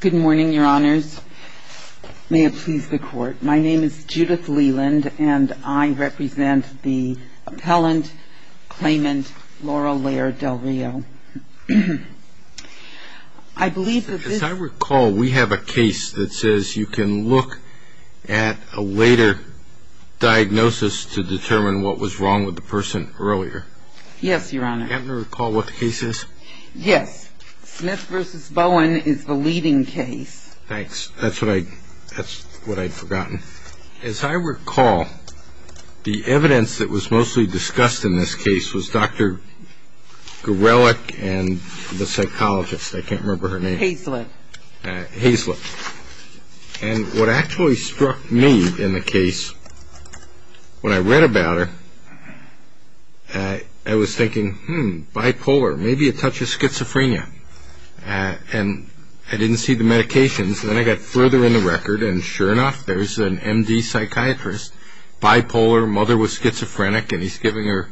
Good morning, Your Honors. May it please the Court, my name is Judith Leland and I represent the appellant, claimant, Laurell Lair-Del Rio. As I recall, we have a case that says you can look at a later diagnosis to determine what was wrong with the person earlier. Yes, Your Honor. Do you happen to recall what the case is? Yes. Smith v. Bowen is the leading case. Thanks. That's what I'd forgotten. As I recall, the evidence that was mostly discussed in this case was Dr. Gorelick and the psychologist, I can't remember her name. Hazlett. Hazlett. And what actually struck me in the case, when I read about her, I was thinking, hmm, bipolar, maybe a touch of schizophrenia. And I didn't see the medications. Then I got further in the record, and sure enough, there's an M.D. psychiatrist, bipolar, mother was schizophrenic, and he's giving her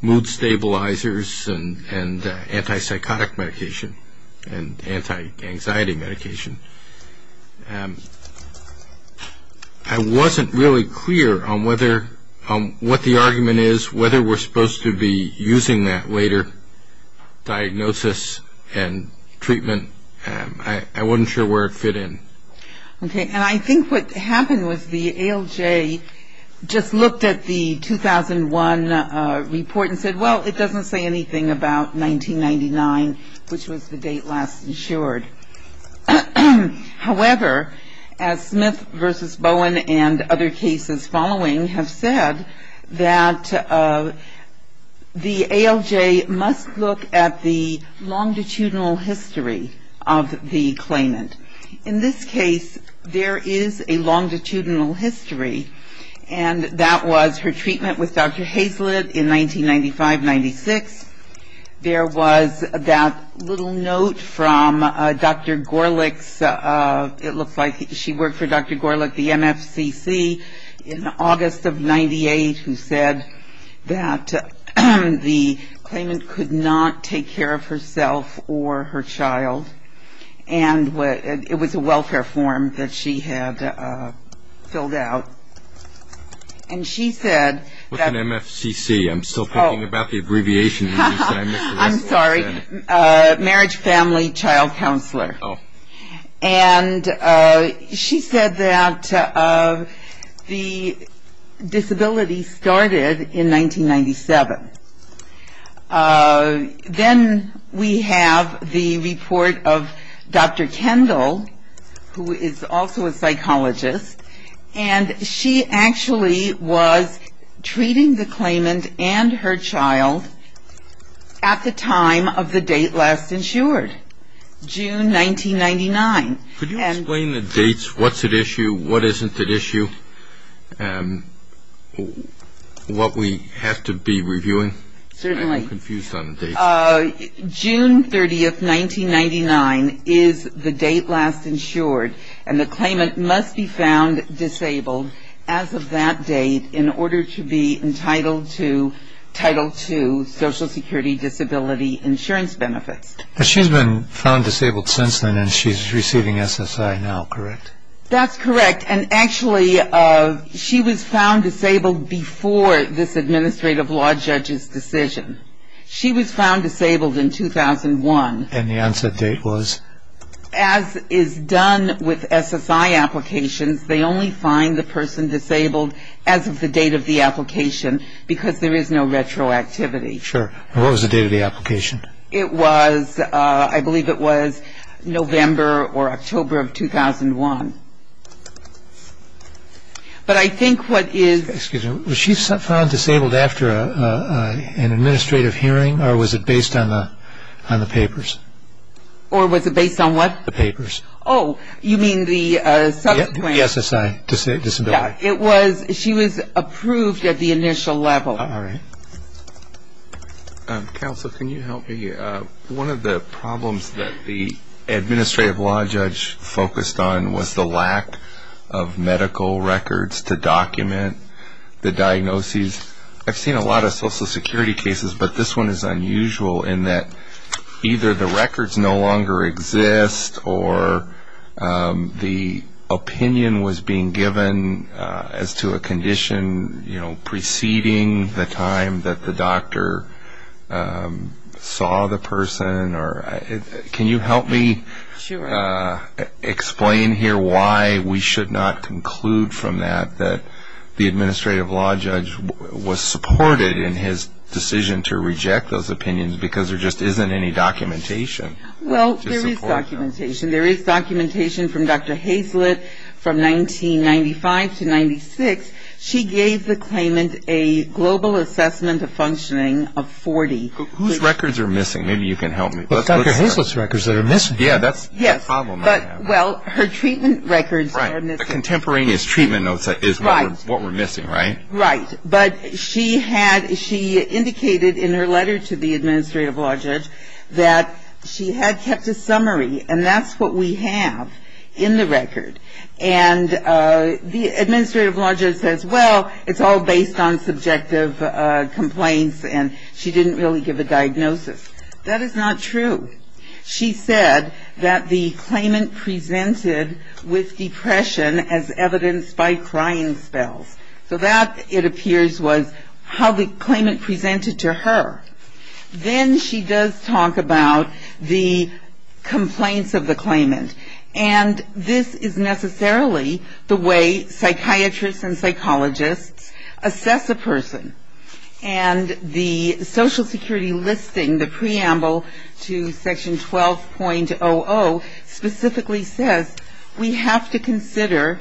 mood stabilizers and anti-psychotic medication and anti-anxiety medication. I wasn't really clear on what the argument is, whether we're supposed to be using that later diagnosis and treatment. I wasn't sure where it fit in. Okay. And I think what happened was the ALJ just looked at the 2001 report and said, well, it doesn't say anything about 1999, which was the date last insured. However, as Smith v. Bowen and other cases following have said, that the ALJ must look at the longitudinal history of the claimant. In this case, there is a longitudinal history, and that was her treatment with Dr. Hazlett in 1995-96. There was that little note from Dr. Gorlick's, it looks like she worked for Dr. Gorlick, the MFCC, in August of 98, who said that the claimant could not take care of herself or her child. And it was a welfare form that she had filled out. And she said that- What's an MFCC? I'm still thinking about the abbreviation. I'm sorry, Marriage Family Child Counselor. And she said that the disability started in 1997. Then we have the report of Dr. Kendall, who is also a psychologist, and she actually was treating the claimant and her child at the time of the date last insured, June 1999. Could you explain the dates, what's at issue, what isn't at issue, what we have to be reviewing? Certainly. I'm confused on the dates. June 30, 1999 is the date last insured, and the claimant must be found disabled as of that date in order to be entitled to Title II Social Security Disability Insurance benefits. She's been found disabled since then, and she's receiving SSI now, correct? That's correct. And actually, she was found disabled before this administrative law judge's decision. She was found disabled in 2001. And the onset date was? As is done with SSI applications, they only find the person disabled as of the date of the application because there is no retroactivity. Sure. What was the date of the application? It was, I believe it was November or October of 2001. But I think what is... Excuse me. Was she found disabled after an administrative hearing, or was it based on the papers? Or was it based on what? The papers. Oh, you mean the subsequent... The SSI disability. It was, she was approved at the initial level. All right. Counsel, can you help me? One of the problems that the administrative law judge focused on was the lack of medical records to document the diagnoses. I've seen a lot of Social Security cases, but this one is unusual in that either the records no longer exist or the opinion was being given as to a condition preceding the time that the doctor saw the person. Can you help me explain here why we should not conclude from that that the administrative law judge was supported in his decision to reject those opinions because there just isn't any documentation to support that. Well, there is documentation. There is documentation from Dr. Hazlett from 1995 to 1996. She gave the claimant a global assessment of functioning of 40. Whose records are missing? Maybe you can help me. Dr. Hazlett's records that are missing. Yeah, that's the problem. Well, her treatment records are missing. Right. The contemporaneous treatment notes is what we're missing, right? Right. But she indicated in her letter to the administrative law judge that she had kept a summary, and that's what we have in the record. And the administrative law judge says, well, it's all based on subjective complaints, and she didn't really give a diagnosis. That is not true. She said that the claimant presented with depression as evidenced by crying spells. So that, it appears, was how the claimant presented to her. Then she does talk about the complaints of the claimant, and this is necessarily the way psychiatrists and psychologists assess a person. And the social security listing, the preamble to Section 12.00, specifically says, we have to consider,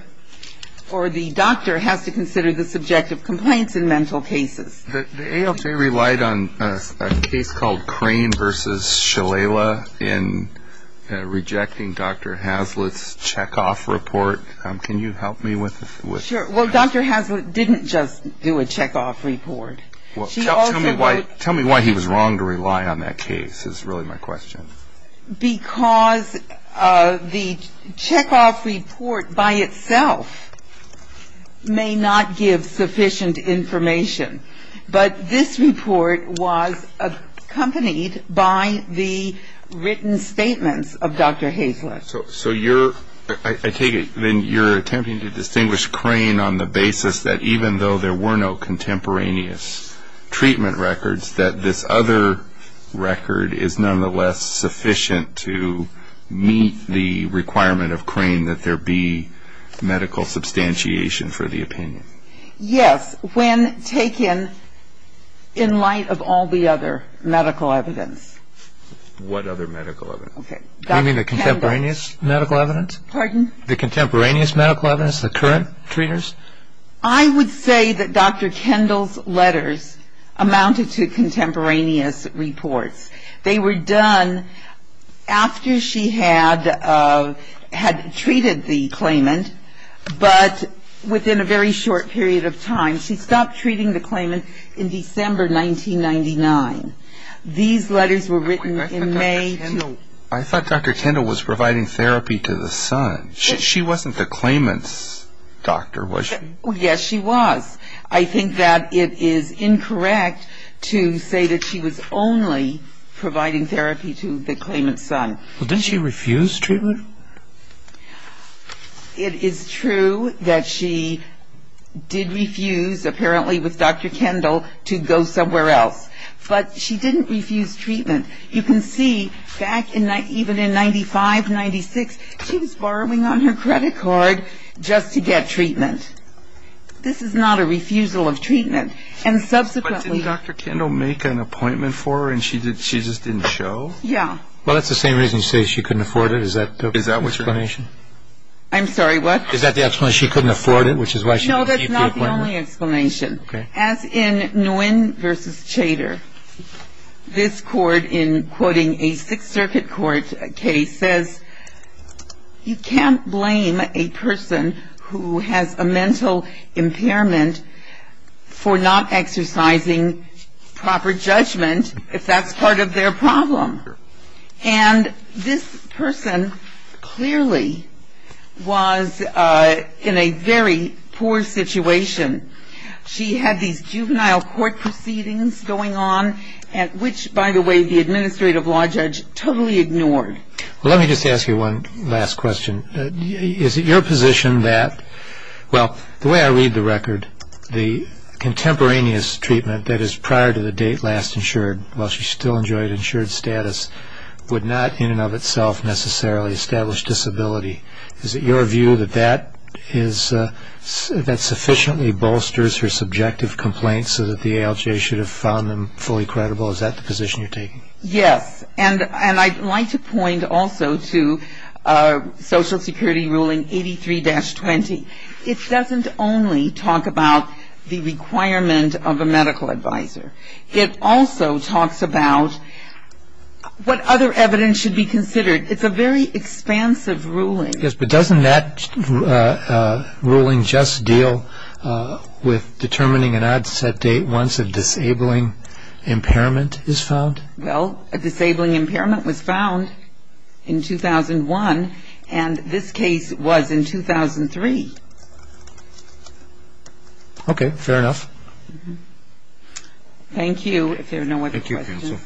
or the doctor has to consider the subjective complaints in mental cases. The ALJ relied on a case called Crane v. Shalala in rejecting Dr. Hazlett's checkoff report. Can you help me with that? Sure. Well, Dr. Hazlett didn't just do a checkoff report. Tell me why he was wrong to rely on that case is really my question. Because the checkoff report by itself may not give sufficient information. But this report was accompanied by the written statements of Dr. Hazlett. So you're, I take it, then you're attempting to distinguish Crane on the basis that even though there were no to meet the requirement of Crane that there be medical substantiation for the opinion. Yes, when taken in light of all the other medical evidence. What other medical evidence? You mean the contemporaneous medical evidence? Pardon? The contemporaneous medical evidence, the current treaters? I would say that Dr. Kendall's letters amounted to contemporaneous reports. They were done after she had treated the claimant, but within a very short period of time. She stopped treating the claimant in December 1999. These letters were written in May. I thought Dr. Kendall was providing therapy to the son. She wasn't the claimant's doctor, was she? Yes, she was. I think that it is incorrect to say that she was only providing therapy to the claimant's son. Well, didn't she refuse treatment? It is true that she did refuse, apparently with Dr. Kendall, to go somewhere else. But she didn't refuse treatment. You can see back even in 95, 96, she was borrowing on her credit card just to get treatment. This is not a refusal of treatment. But didn't Dr. Kendall make an appointment for her and she just didn't show? Yeah. Well, that's the same reason you say she couldn't afford it. Is that the explanation? I'm sorry, what? Is that the explanation, she couldn't afford it, which is why she didn't keep the appointment? No, that's not the only explanation. As in Nguyen v. Chater, this court, in quoting a Sixth Circuit court case, says you can't blame a person who has a mental impairment for not exercising proper judgment if that's part of their problem. And this person clearly was in a very poor situation. She had these juvenile court proceedings going on, which, by the way, the administrative law judge totally ignored. Well, let me just ask you one last question. Is it your position that, well, the way I read the record, the contemporaneous treatment that is prior to the date last insured, while she still enjoyed insured status, would not in and of itself necessarily establish disability. Is it your view that that sufficiently bolsters her subjective complaints so that the ALJ should have found them fully credible? Is that the position you're taking? Yes. And I'd like to point also to Social Security ruling 83-20. It doesn't only talk about the requirement of a medical advisor. It also talks about what other evidence should be considered. It's a very expansive ruling. Yes, but doesn't that ruling just deal with determining an onset date once a disabling impairment is found? Well, a disabling impairment was found in 2001, and this case was in 2003. Okay, fair enough. Thank you. Thank you, counsel.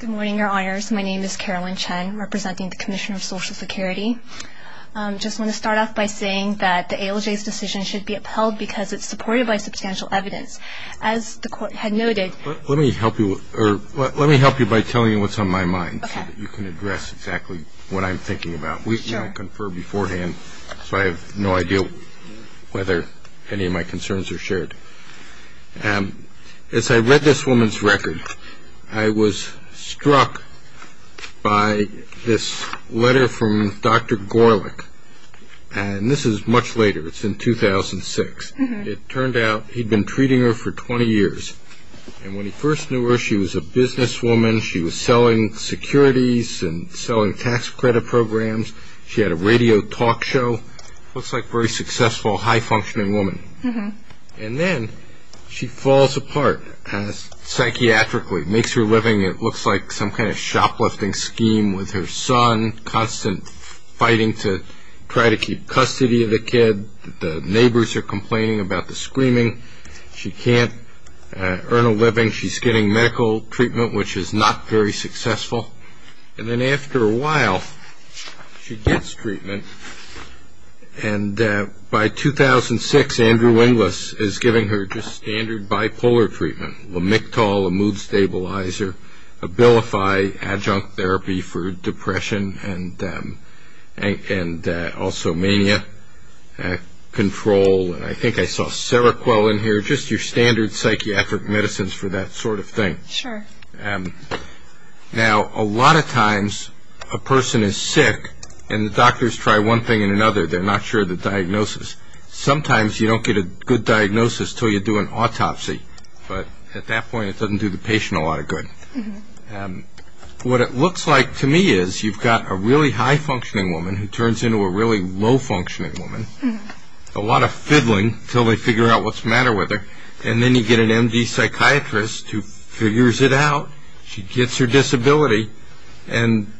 Good morning, Your Honors. My name is Carolyn Chen, representing the Commission of Social Security. I just want to start off by saying that the ALJ's decision should be upheld because it's supported by substantial evidence. As the Court had noted – Let me help you by telling you what's on my mind so that you can address exactly what I'm thinking about. We've now conferred beforehand, so I have no idea whether any of my concerns are shared. As I read this woman's record, I was struck by this letter from Dr. Gorlick, and this is much later. It's in 2006. It turned out he'd been treating her for 20 years, and when he first knew her, she was a businesswoman. She was selling securities and selling tax credit programs. She had a radio talk show. Looks like a very successful, high-functioning woman. And then she falls apart psychiatrically, makes her living, it looks like some kind of shoplifting scheme with her son, constant fighting to try to keep custody of the kid. The neighbors are complaining about the screaming. She can't earn a living. She's getting medical treatment, which is not very successful. And then after a while, she gets treatment. And by 2006, Andrew Winglis is giving her just standard bipolar treatment, Lamictal, a mood stabilizer, Abilify, adjunct therapy for depression and also mania control, and I think I saw Seroquel in here, just your standard psychiatric medicines for that sort of thing. Sure. Now, a lot of times a person is sick and the doctors try one thing and another. They're not sure of the diagnosis. Sometimes you don't get a good diagnosis until you do an autopsy, but at that point it doesn't do the patient a lot of good. What it looks like to me is you've got a really high-functioning woman who turns into a really low-functioning woman, a lot of fiddling until they figure out what's the matter with her, and then you get an MD psychiatrist who figures it out. She gets her disability, and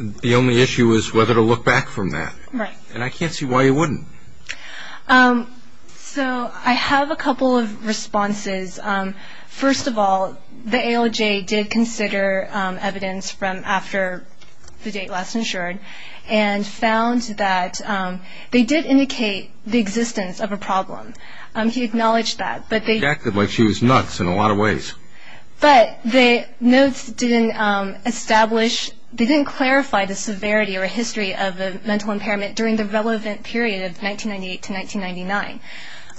the only issue is whether to look back from that. Right. And I can't see why you wouldn't. So I have a couple of responses. First of all, the ALJ did consider evidence from after the date last insured and found that they did indicate the existence of a problem. He acknowledged that. She acted like she was nuts in a lot of ways. But the notes didn't establish, they didn't clarify the severity or history of a mental impairment during the relevant period of 1998 to 1999.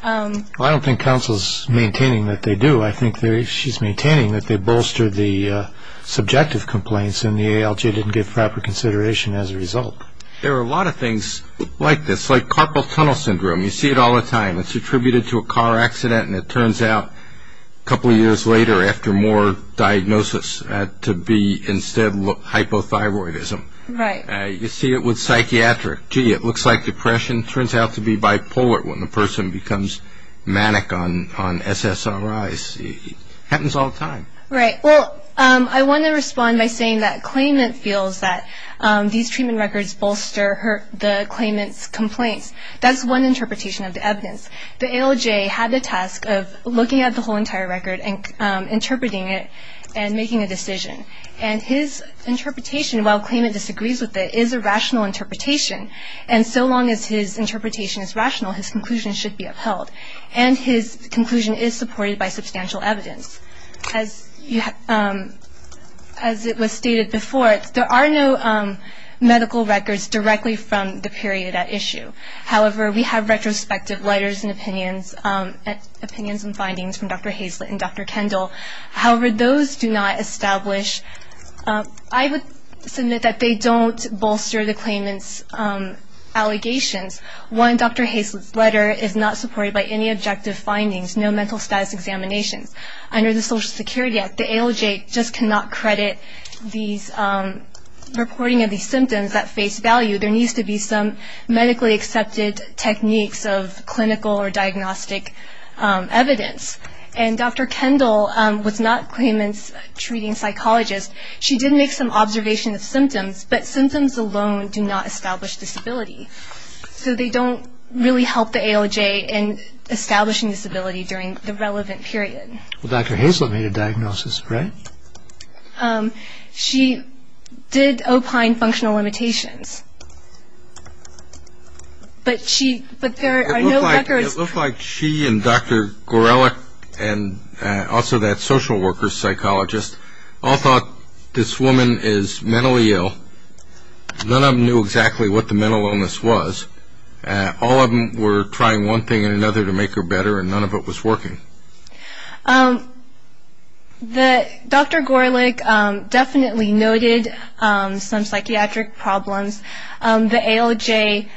Well, I don't think counsel's maintaining that they do. I think she's maintaining that they bolstered the subjective complaints and the ALJ didn't give proper consideration as a result. There are a lot of things like this, like carpal tunnel syndrome. You see it all the time. It's attributed to a car accident, and it turns out a couple of years later, after more diagnosis, to be instead hypothyroidism. Right. You see it with psychiatric. Gee, it looks like depression. It turns out to be bipolar when the person becomes manic on SSRIs. It happens all the time. Right. Well, I want to respond by saying that claimant feels that these treatment records bolster the claimant's complaints. That's one interpretation of the evidence. The ALJ had the task of looking at the whole entire record and interpreting it and making a decision. And his interpretation, while claimant disagrees with it, is a rational interpretation. And so long as his interpretation is rational, his conclusion should be upheld. And his conclusion is supported by substantial evidence. As it was stated before, there are no medical records directly from the period at issue. However, we have retrospective letters and opinions and findings from Dr. Hazlett and Dr. Kendall. However, those do not establish, I would submit that they don't bolster the claimant's allegations. One, Dr. Hazlett's letter is not supported by any objective findings, no mental status examinations. Under the Social Security Act, the ALJ just cannot credit these reporting of these symptoms at face value. There needs to be some medically accepted techniques of clinical or diagnostic evidence. And Dr. Kendall was not claimant's treating psychologist. She did make some observation of symptoms, but symptoms alone do not establish disability. So they don't really help the ALJ in establishing disability during the relevant period. Well, Dr. Hazlett made a diagnosis, right? She did opine functional limitations. But there are no records. It looked like she and Dr. Gorelick and also that social worker psychologist all thought this woman is mentally ill. None of them knew exactly what the mental illness was. All of them were trying one thing or another to make her better, and none of it was working. Dr. Gorelick definitely noted some psychiatric problems. The ALJ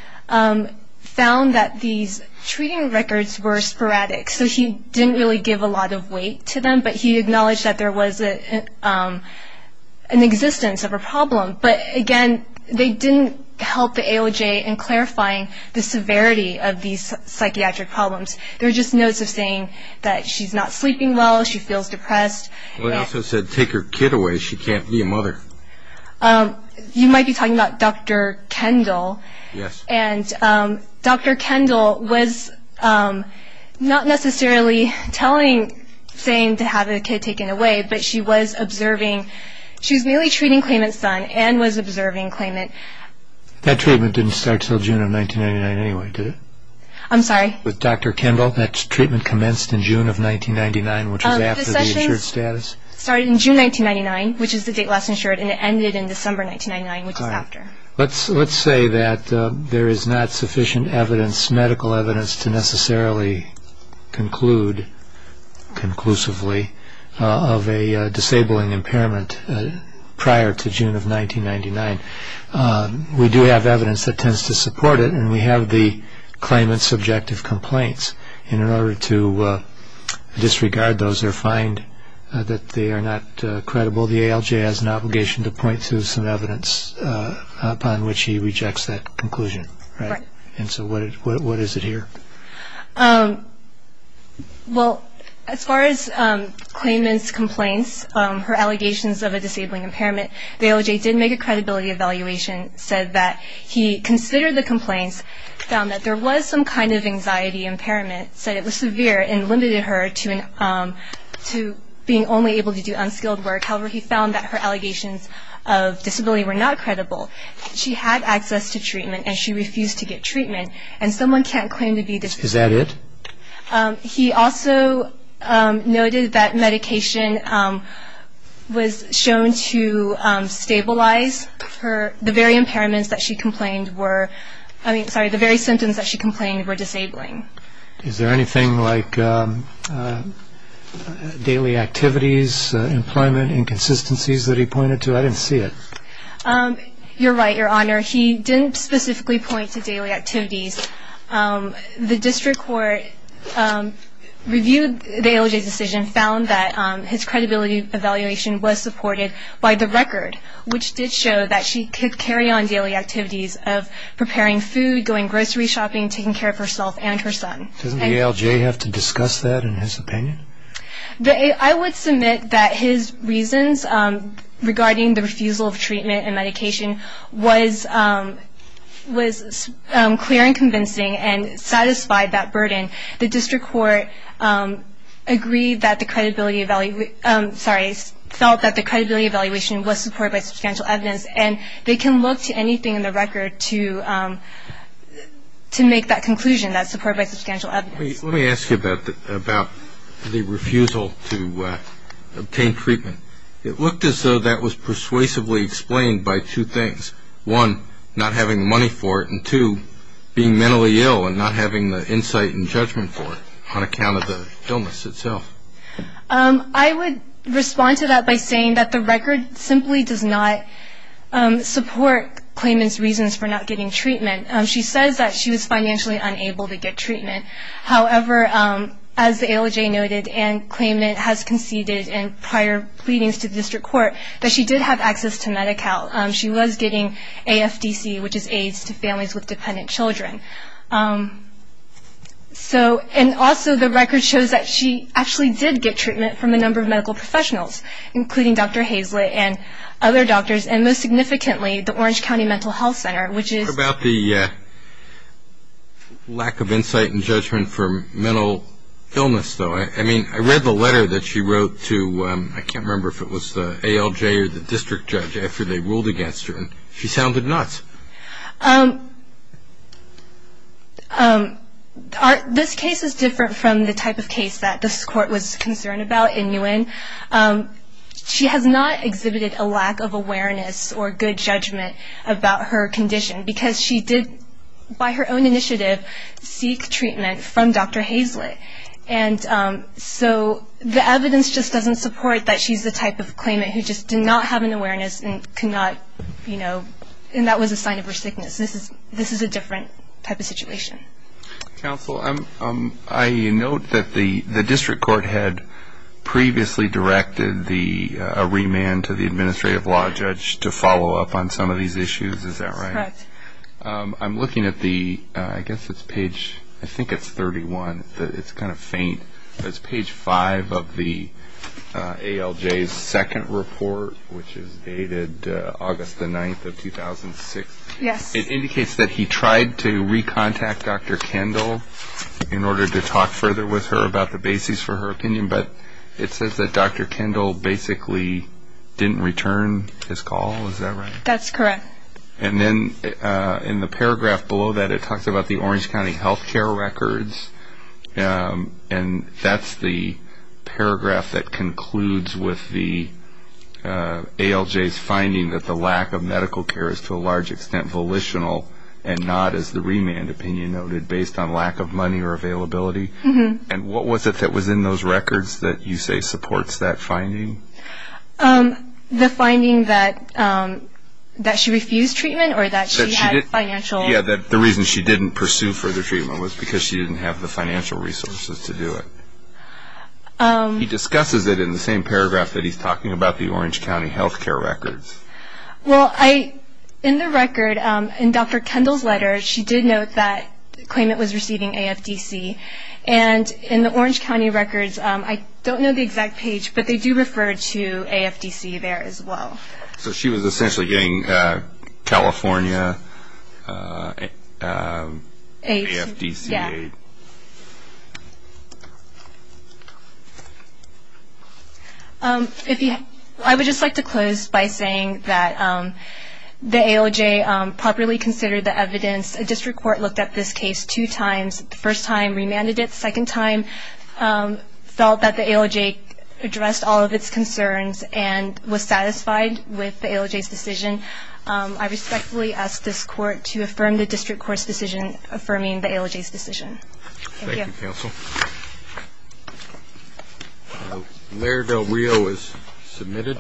found that these treating records were sporadic. So he didn't really give a lot of weight to them, but he acknowledged that there was an existence of a problem. But, again, they didn't help the ALJ in clarifying the severity of these psychiatric problems. They were just notes of saying that she's not sleeping well, she feels depressed. Well, he also said take her kid away. She can't be a mother. You might be talking about Dr. Kendall. Yes. And Dr. Kendall was not necessarily saying to have the kid taken away, but she was observing. She was merely treating claimant's son and was observing claimant. That treatment didn't start until June of 1999 anyway, did it? I'm sorry? With Dr. Kendall, that treatment commenced in June of 1999, which was after the insured status? It started in June 1999, which is the date last insured, and it ended in December 1999, which is after. Let's say that there is not sufficient medical evidence to necessarily conclude conclusively of a disabling impairment prior to June of 1999. We do have evidence that tends to support it, and we have the claimant's subjective complaints. In order to disregard those or find that they are not credible, the ALJ has an obligation to point to some evidence upon which he rejects that conclusion. Right. And so what is it here? Well, as far as claimant's complaints, her allegations of a disabling impairment, the ALJ did make a credibility evaluation, said that he considered the complaints, found that there was some kind of anxiety impairment, said it was severe and limited her to being only able to do unskilled work. However, he found that her allegations of disability were not credible. She had access to treatment, and she refused to get treatment, and someone can't claim to be disabled. Is that it? He also noted that medication was shown to stabilize the very impairments that she complained were, I mean, sorry, the very symptoms that she complained were disabling. Is there anything like daily activities, employment inconsistencies that he pointed to? I didn't see it. You're right, Your Honor. He didn't specifically point to daily activities. The district court reviewed the ALJ's decision, found that his credibility evaluation was supported by the record, which did show that she could carry on daily activities of preparing food, going grocery shopping, taking care of herself and her son. Doesn't the ALJ have to discuss that in his opinion? I would submit that his reasons regarding the refusal of treatment and medication was clear and convincing and satisfied that burden. The district court felt that the credibility evaluation was supported by substantial evidence, and they can look to anything in the record to make that conclusion that's supported by substantial evidence. Let me ask you about the refusal to obtain treatment. It looked as though that was persuasively explained by two things, one, not having the money for it, and two, being mentally ill and not having the insight and judgment for it on account of the illness itself. I would respond to that by saying that the record simply does not support Clayman's reasons for not getting treatment. She says that she was financially unable to get treatment. However, as the ALJ noted and Clayman has conceded in prior pleadings to the district court, that she did have access to Medi-Cal. She was getting AFDC, which is AIDS, to families with dependent children. And also, the record shows that she actually did get treatment from a number of medical professionals, including Dr. Hazlett and other doctors, and most significantly, the Orange County Mental Health Center, which is- What about the lack of insight and judgment for mental illness, though? I mean, I read the letter that she wrote to, I can't remember if it was the ALJ or the district judge, after they ruled against her, and she sounded nuts. This case is different from the type of case that this court was concerned about in Nguyen. She has not exhibited a lack of awareness or good judgment about her condition, because she did, by her own initiative, seek treatment from Dr. Hazlett. And so the evidence just doesn't support that she's the type of Clayman who just did not have an awareness and that was a sign of her sickness. This is a different type of situation. Counsel, I note that the district court had previously directed a remand to the administrative law judge to follow up on some of these issues. Is that right? That's correct. I'm looking at the- I guess it's page- I think it's 31. It's kind of faint. It's page 5 of the ALJ's second report, which is dated August the 9th of 2006. Yes. It indicates that he tried to recontact Dr. Kendall in order to talk further with her about the basis for her opinion, but it says that Dr. Kendall basically didn't return his call. Is that right? That's correct. And then in the paragraph below that, it talks about the Orange County health care records, and that's the paragraph that concludes with the ALJ's finding that the lack of medical care is to a large extent volitional and not, as the remand opinion noted, based on lack of money or availability. And what was it that was in those records that you say supports that finding? The finding that she refused treatment or that she had financial- Yeah, that the reason she didn't pursue further treatment was because she didn't have the financial resources to do it. He discusses it in the same paragraph that he's talking about, the Orange County health care records. Well, in the record, in Dr. Kendall's letter, she did note that the claimant was receiving AFDC, and in the Orange County records, I don't know the exact page, but they do refer to AFDC there as well. So she was essentially getting California AFDC aid. Yeah. I would just like to close by saying that the ALJ properly considered the evidence. A district court looked at this case two times. The first time, remanded it. The second time, felt that the ALJ addressed all of its concerns and was satisfied with the ALJ's decision. I respectfully ask this court to affirm the district court's decision affirming the ALJ's decision. Thank you. Thank you, counsel. Larry Valrio is submitted.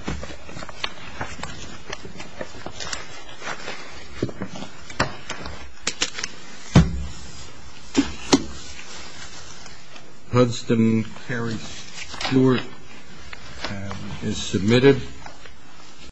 Hudson Harry Stewart is submitted.